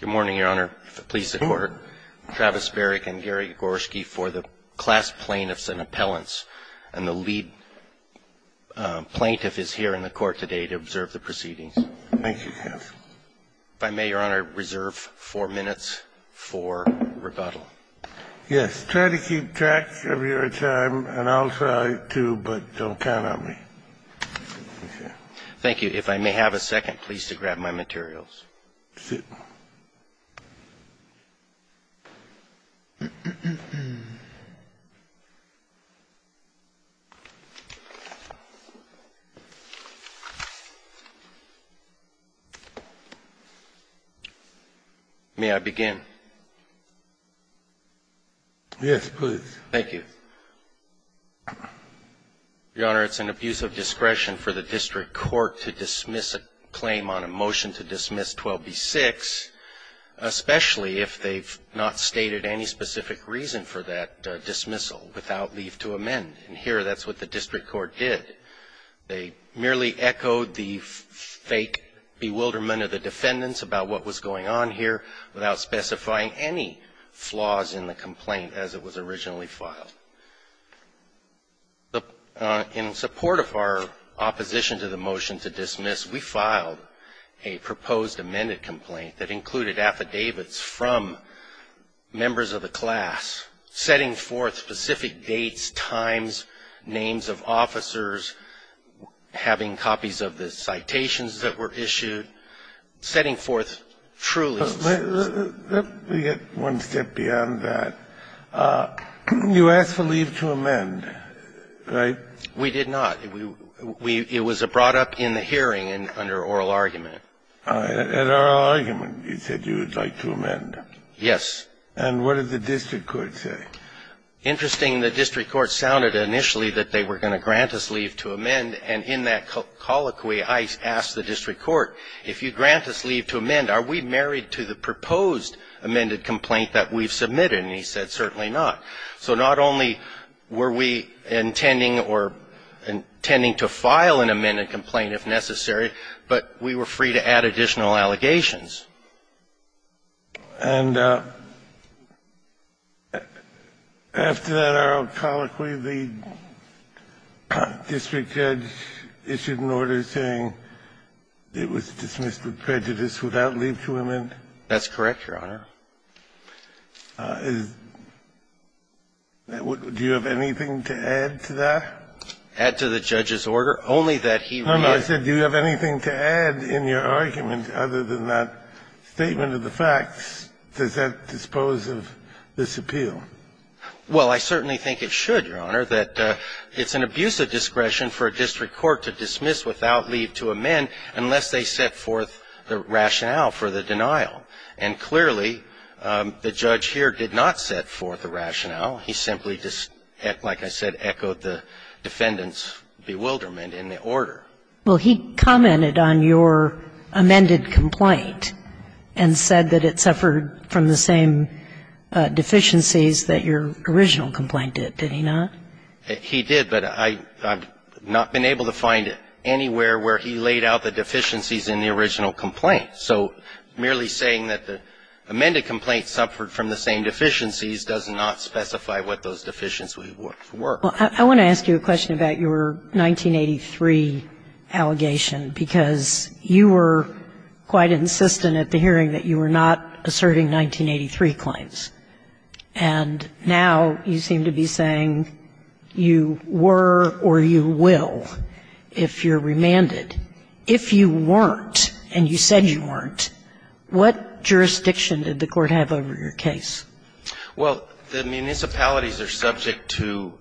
Good morning, Your Honor. Please support Travis Berrick and Gary Gorski for the class plaintiffs and appellants. And the lead plaintiff is here in the court today to observe the proceedings. Thank you, counsel. If I may, Your Honor, reserve four minutes for rebuttal. Yes. Try to keep track of your time, and I'll try to, but don't count on me. Okay. Thank you. If I may have a second, please, to grab my materials. Sit. May I begin? Yes, please. Thank you. Your Honor, it's an abuse of discretion for the district court to dismiss a claim on a motion to dismiss 12b-6, especially if they've not stated any specific reason for that dismissal without leave to amend. And here that's what the district court did. They merely echoed the fake bewilderment of the defendants about what was going on here without specifying any flaws in the complaint as it was originally filed. In support of our opposition to the motion to dismiss, we filed a proposed amended complaint that included affidavits from members of the class, setting forth specific dates, times, names of officers, having copies of the citations that were issued, setting forth truly specific dates. Let me get one step beyond that. You asked for leave to amend, right? We did not. It was brought up in the hearing under oral argument. In oral argument, you said you would like to amend. Yes. And what did the district court say? And in that colloquy, I asked the district court, if you grant us leave to amend, are we married to the proposed amended complaint that we've submitted? And he said, certainly not. So not only were we intending or intending to file an amended complaint if necessary, but we were free to add additional allegations. And after that oral colloquy, the district judge issued an order saying it was dismissed with prejudice without leave to amend? That's correct, Your Honor. Do you have anything to add to that? Add to the judge's order? Only that he read it. I said, do you have anything to add in your argument other than that statement of the facts? Does that dispose of this appeal? Well, I certainly think it should, Your Honor, that it's an abuse of discretion for a district court to dismiss without leave to amend unless they set forth the rationale for the denial. And clearly, the judge here did not set forth a rationale. He simply just, like I said, echoed the defendant's bewilderment in the order. Well, he commented on your amended complaint and said that it suffered from the same deficiencies that your original complaint did, did he not? He did, but I've not been able to find anywhere where he laid out the deficiencies in the original complaint. So merely saying that the amended complaint suffered from the same deficiencies does not specify what those deficiencies were. Well, I want to ask you a question about your 1983 allegation, because you were quite insistent at the hearing that you were not asserting 1983 claims. And now you seem to be saying you were or you will if you're remanded. If you weren't and you said you weren't, what jurisdiction did the Court have over your case? Well, the municipalities are subject to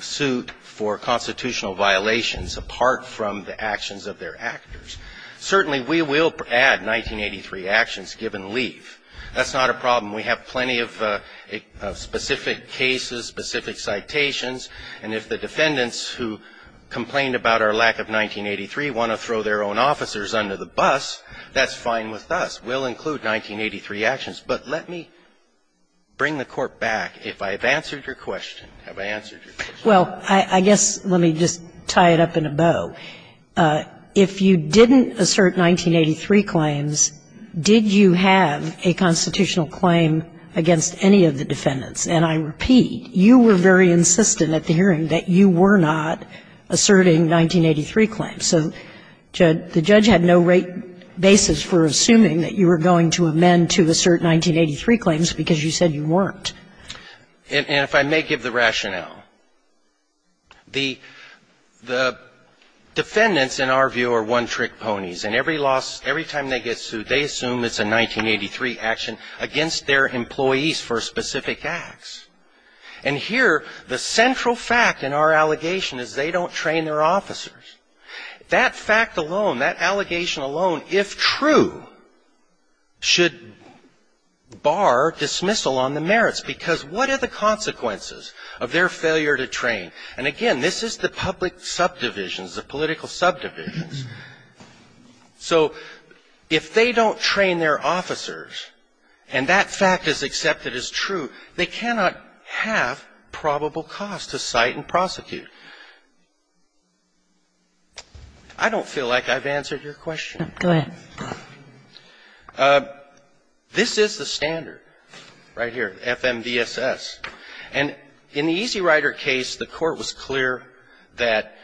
suit for constitutional violations apart from the actions of their actors. Certainly, we will add 1983 actions given leave. That's not a problem. We have plenty of specific cases, specific citations. And if the defendants who complained about our lack of 1983 want to throw their own officers under the bus, that's fine with us. We'll include 1983 actions. But let me bring the Court back. If I have answered your question. Have I answered your question? Well, I guess let me just tie it up in a bow. If you didn't assert 1983 claims, did you have a constitutional claim against any of the defendants? And I repeat, you were very insistent at the hearing that you were not asserting 1983 claims. So the judge had no rate basis for assuming that you were going to amend to assert 1983 claims because you said you weren't. And if I may give the rationale. The defendants, in our view, are one-trick ponies. And every loss, every time they get sued, they assume it's a 1983 action against their employees for specific acts. And here the central fact in our allegation is they don't train their officers. That fact alone, that allegation alone, if true, should bar dismissal on the merits because what are the consequences of their failure to train? And again, this is the public subdivisions, the political subdivisions. So if they don't train their officers and that fact is accepted as true, they cannot have probable cause to cite and prosecute. I don't feel like I've answered your question. Go ahead. This is the standard right here, FMDSS. And in the Easy Rider case, the Court was clear that,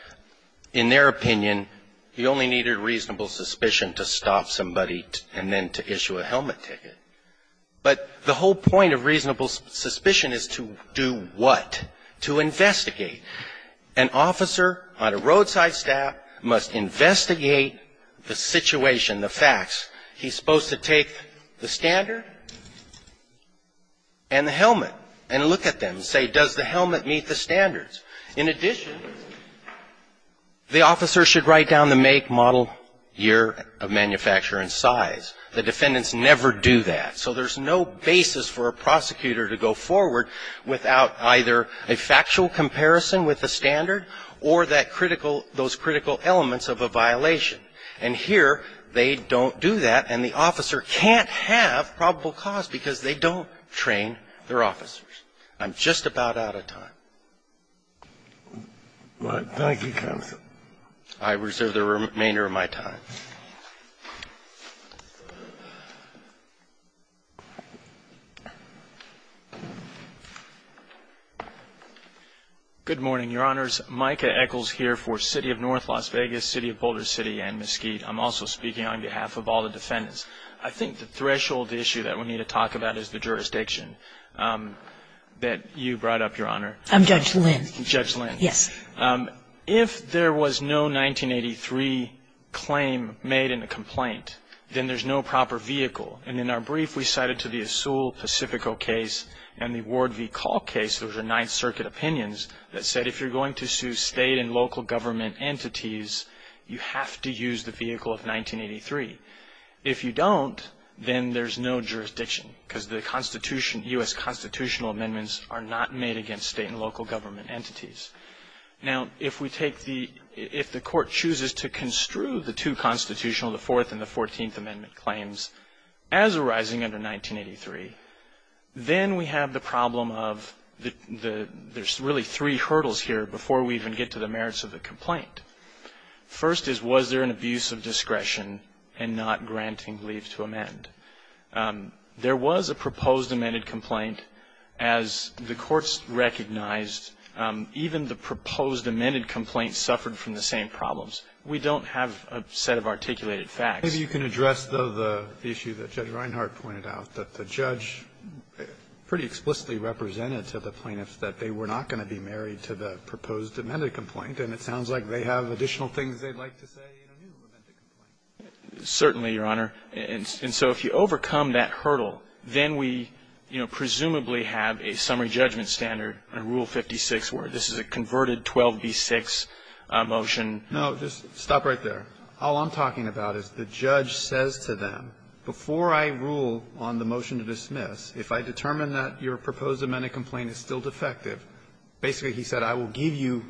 in their opinion, you only needed reasonable suspicion to stop somebody and then to issue a helmet ticket. But the whole point of reasonable suspicion is to do what? To investigate. An officer on a roadside stop must investigate the situation, the facts. He's supposed to take the standard and the helmet and look at them and say, does the helmet meet the standards? In addition, the officer should write down the make, model, year of manufacture and size. The defendants never do that. So there's no basis for a prosecutor to go forward without either a factual comparison with the standard or that critical – those critical elements of a violation. And here, they don't do that and the officer can't have probable cause because they don't train their officers. I'm just about out of time. Thank you, counsel. I reserve the remainder of my time. Good morning, Your Honors. Micah Echols here for City of North, Las Vegas, City of Boulder City and Mesquite. I'm also speaking on behalf of all the defendants. I think the threshold issue that we need to talk about is the jurisdiction that you brought up, Your Honor. I'm Judge Lynn. If there was no 1983 claim that the defendant was guilty of a crime, made in a complaint, then there's no proper vehicle. And in our brief, we cited to the Asul Pacifico case and the Ward v. Call case, those are Ninth Circuit opinions, that said if you're going to sue state and local government entities, you have to use the vehicle of 1983. If you don't, then there's no jurisdiction because the U.S. constitutional amendments are not made against state and local government entities. Now, if the court chooses to construe the two constitutional, the Fourth and the Fourteenth Amendment claims, as arising under 1983, then we have the problem of there's really three hurdles here before we even get to the merits of the complaint. First is, was there an abuse of discretion in not granting leave to amend? There was a proposed amended complaint, as the courts recognized. Even the proposed amended complaint suffered from the same problems. We don't have a set of articulated facts. Kennedy, you can address, though, the issue that Judge Reinhart pointed out, that the judge pretty explicitly represented to the plaintiffs that they were not going to be married to the proposed amended complaint, and it sounds like they have additional things they'd like to say in a new amended complaint. Certainly, Your Honor. And so if you overcome that hurdle, then we, you know, presumably have a summary judgment standard under Rule 56 where this is a converted 12b-6 motion. No. Just stop right there. All I'm talking about is the judge says to them, before I rule on the motion to dismiss, if I determine that your proposed amended complaint is still defective, basically, he said, I will give you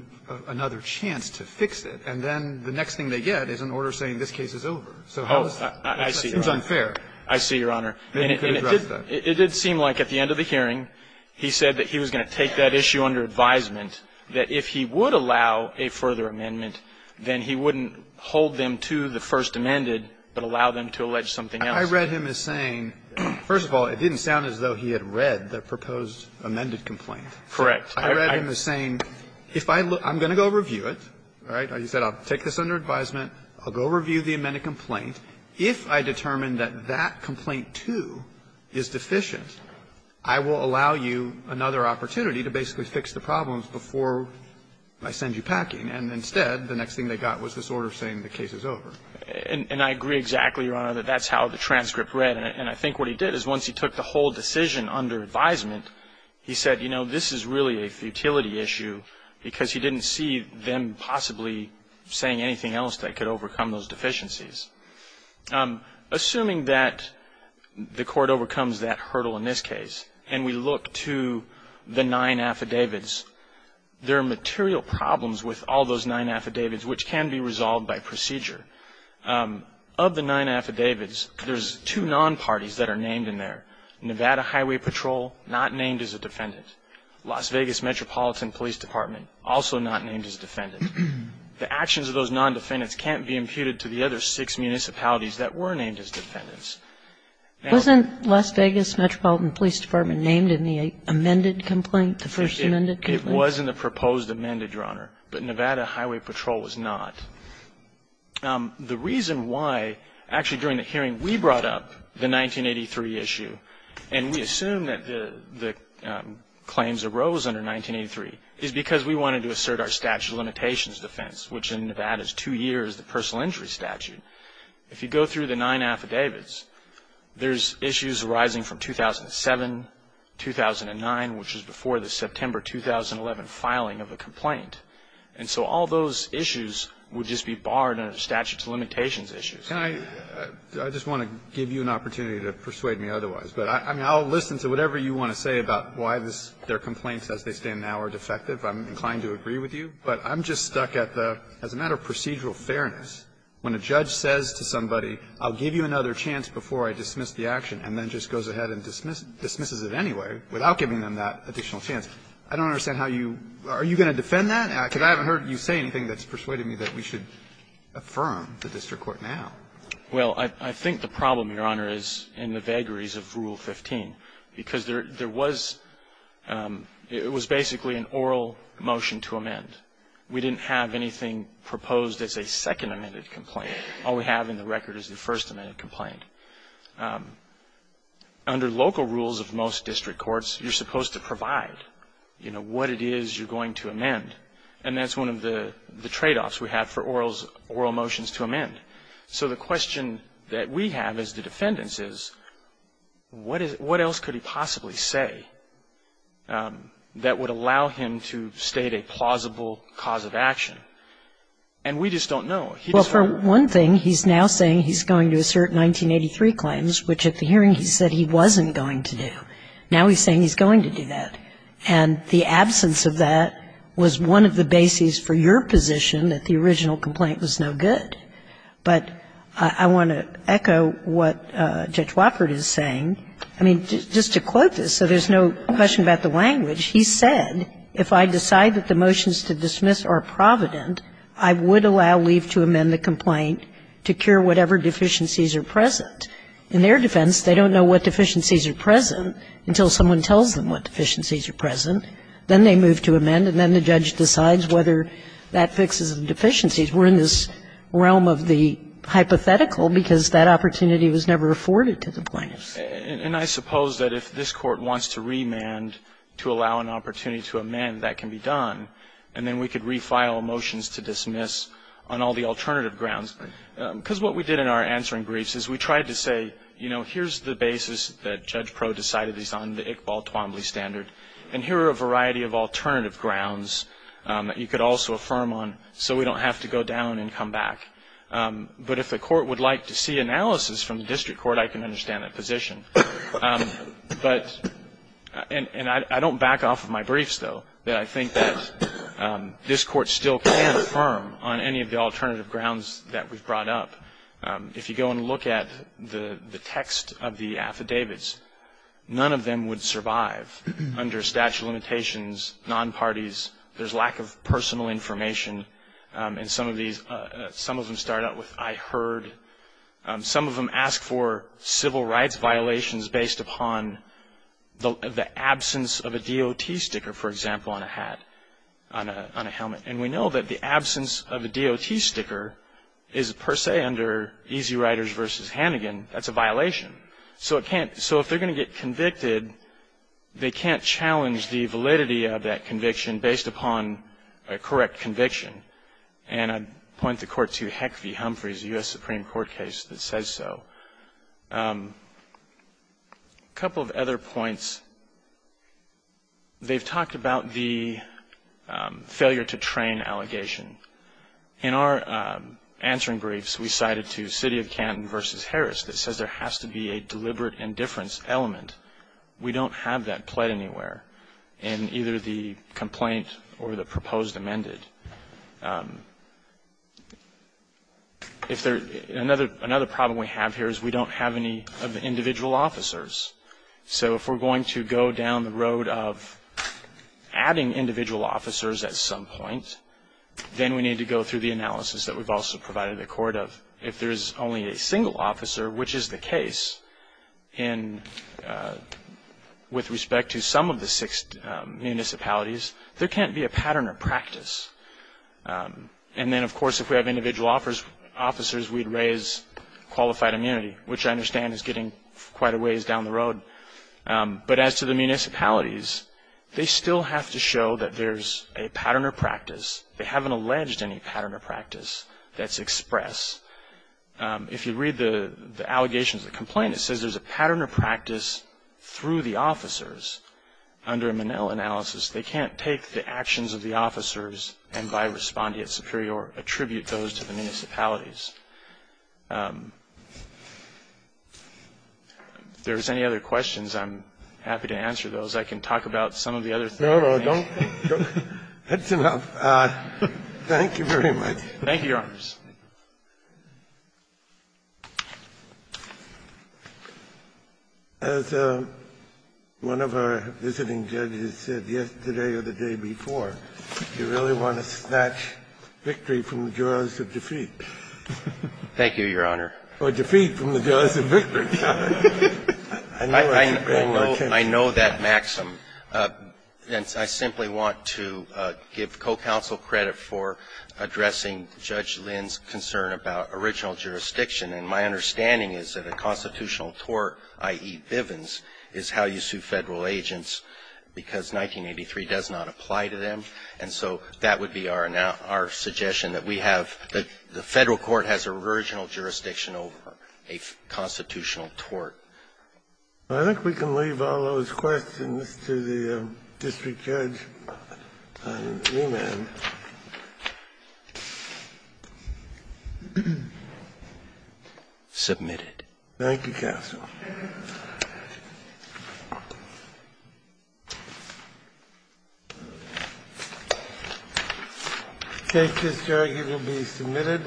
another chance to fix it. And then the next thing they get is an order saying this case is over. Oh, I see, Your Honor. It seems unfair. I see, Your Honor. And it did seem like at the end of the hearing he said that he was going to take that issue under advisement, that if he would allow a further amendment, then he wouldn't hold them to the first amended but allow them to allege something else. I read him as saying, first of all, it didn't sound as though he had read the proposed amended complaint. Correct. I read him as saying, if I look at it, I'm going to go review it. All right? He said, I'll take this under advisement. I'll go review the amended complaint. If I determine that that complaint, too, is deficient, I will allow you another opportunity to basically fix the problems before I send you packing. And instead, the next thing they got was this order saying the case is over. And I agree exactly, Your Honor, that that's how the transcript read. And I think what he did is once he took the whole decision under advisement, he said, you know, this is really a futility issue because he didn't see them possibly saying anything else that could overcome those deficiencies. Assuming that the court overcomes that hurdle in this case and we look to the nine affidavits, there are material problems with all those nine affidavits which can be resolved by procedure. Of the nine affidavits, there's two non-parties that are named in there. Nevada Highway Patrol, not named as a defendant. Las Vegas Metropolitan Police Department, also not named as a defendant. The actions of those non-defendants can't be imputed to the other six municipalities that were named as defendants. Now ---- Wasn't Las Vegas Metropolitan Police Department named in the amended complaint, the first amended complaint? It was in the proposed amended, Your Honor. But Nevada Highway Patrol was not. The reason why, actually during the hearing, we brought up the 1983 issue and we assumed that the claims arose under 1983 is because we wanted to assert our statute of limitations defense, which in Nevada is two years, the personal injury statute. If you go through the nine affidavits, there's issues arising from 2007, 2009, which was before the September 2011 filing of the complaint. And so all those issues would just be barred under statute of limitations issues. Can I ---- I just want to give you an opportunity to persuade me otherwise. But I'll listen to whatever you want to say about why this ---- their complaints as they stand now are defective. I'm inclined to agree with you. But I'm just stuck at the ---- as a matter of procedural fairness, when a judge says to somebody, I'll give you another chance before I dismiss the action, and then just goes ahead and dismisses it anyway without giving them that additional chance, I don't understand how you ---- are you going to defend that? Because I haven't heard you say anything that's persuaded me that we should affirm the district court now. Well, I think the problem, Your Honor, is in the vagaries of Rule 15, because there was ---- it was basically an oral motion to amend. We didn't have anything proposed as a second amended complaint. All we have in the record is the first amended complaint. Under local rules of most district courts, you're supposed to provide, you know, what it is you're going to amend. And that's one of the tradeoffs we have for oral motions to amend. So the question that we have as the defendants is, what else could he possibly say that would allow him to state a plausible cause of action? And we just don't know. Well, for one thing, he's now saying he's going to assert 1983 claims, which at the hearing he said he wasn't going to do. Now he's saying he's going to do that. And the absence of that was one of the bases for your position that the original complaint was no good. But I want to echo what Judge Wofford is saying. I mean, just to quote this so there's no question about the language, he said, If I decide that the motions to dismiss are provident, I would allow leave to amend the complaint to cure whatever deficiencies are present. In their defense, they don't know what deficiencies are present until someone tells them what deficiencies are present. Then they move to amend, and then the judge decides whether that fixes the deficiencies. We're in this realm of the hypothetical because that opportunity was never afforded to the plaintiffs. And I suppose that if this Court wants to remand to allow an opportunity to amend, that can be done. And then we could refile motions to dismiss on all the alternative grounds. Because what we did in our answering briefs is we tried to say, you know, here's the basis that Judge Proulx decided is on the Iqbal Twombly standard, and here are a variety of alternative grounds that you could also affirm on so we don't have to go down and come back. But if the Court would like to see analysis from the district court, I can understand that position. But, and I don't back off of my briefs, though, that I think that this Court still can affirm on any of the alternative grounds that we've brought up. If you go and look at the text of the affidavits, none of them would survive under statute of limitations, non-parties. There's lack of personal information in some of these. Some of them start out with, I heard. Some of them ask for civil rights violations based upon the absence of a DOT sticker, for example, on a hat, on a helmet. And we know that the absence of a DOT sticker is per se under Easy Riders v. Hannigan. That's a violation. So if they're going to get convicted, they can't challenge the validity of that conviction based upon a correct conviction. And I point the Court to Heck v. Humphreys, a U.S. Supreme Court case that says so. A couple of other points. They've talked about the failure to train allegation. In our answering briefs, we cited to City of Canton v. Harris that says there has to be a deliberate indifference element. We don't have that played anywhere in either the complaint or the proposed amended. Another problem we have here is we don't have any of the individual officers. So if we're going to go down the road of adding individual officers at some point, then we need to go through the analysis that we've also provided the Court of if there's only a with respect to some of the six municipalities, there can't be a pattern or practice. And then, of course, if we have individual officers, we'd raise qualified immunity, which I understand is getting quite a ways down the road. But as to the municipalities, they still have to show that there's a pattern or practice. They haven't alleged any pattern or practice that's expressed. If you read the allegations of the complaint, it says there's a pattern or practice through the officers under a Minnell analysis. They can't take the actions of the officers and, by responding at superior, attribute those to the municipalities. If there's any other questions, I'm happy to answer those. I can talk about some of the other things. Scalia. No, no, don't. That's enough. Thank you very much. Thank you, Your Honors. As one of our visiting judges said yesterday or the day before, you really want to snatch victory from the jaws of defeat. Thank you, Your Honor. Or defeat from the jaws of victory. I know that maxim. And I simply want to give co-counsel credit for addressing Judge Lynn's concern about original jurisdiction. And my understanding is that a constitutional tort, i.e., Bivens, is how you sue Federal agents because 1983 does not apply to them. And so that would be our suggestion, that we have the Federal court has original jurisdiction over a constitutional tort. I think we can leave all those questions to the district judge on remand. Submitted. Thank you, counsel. The case is arguably submitted.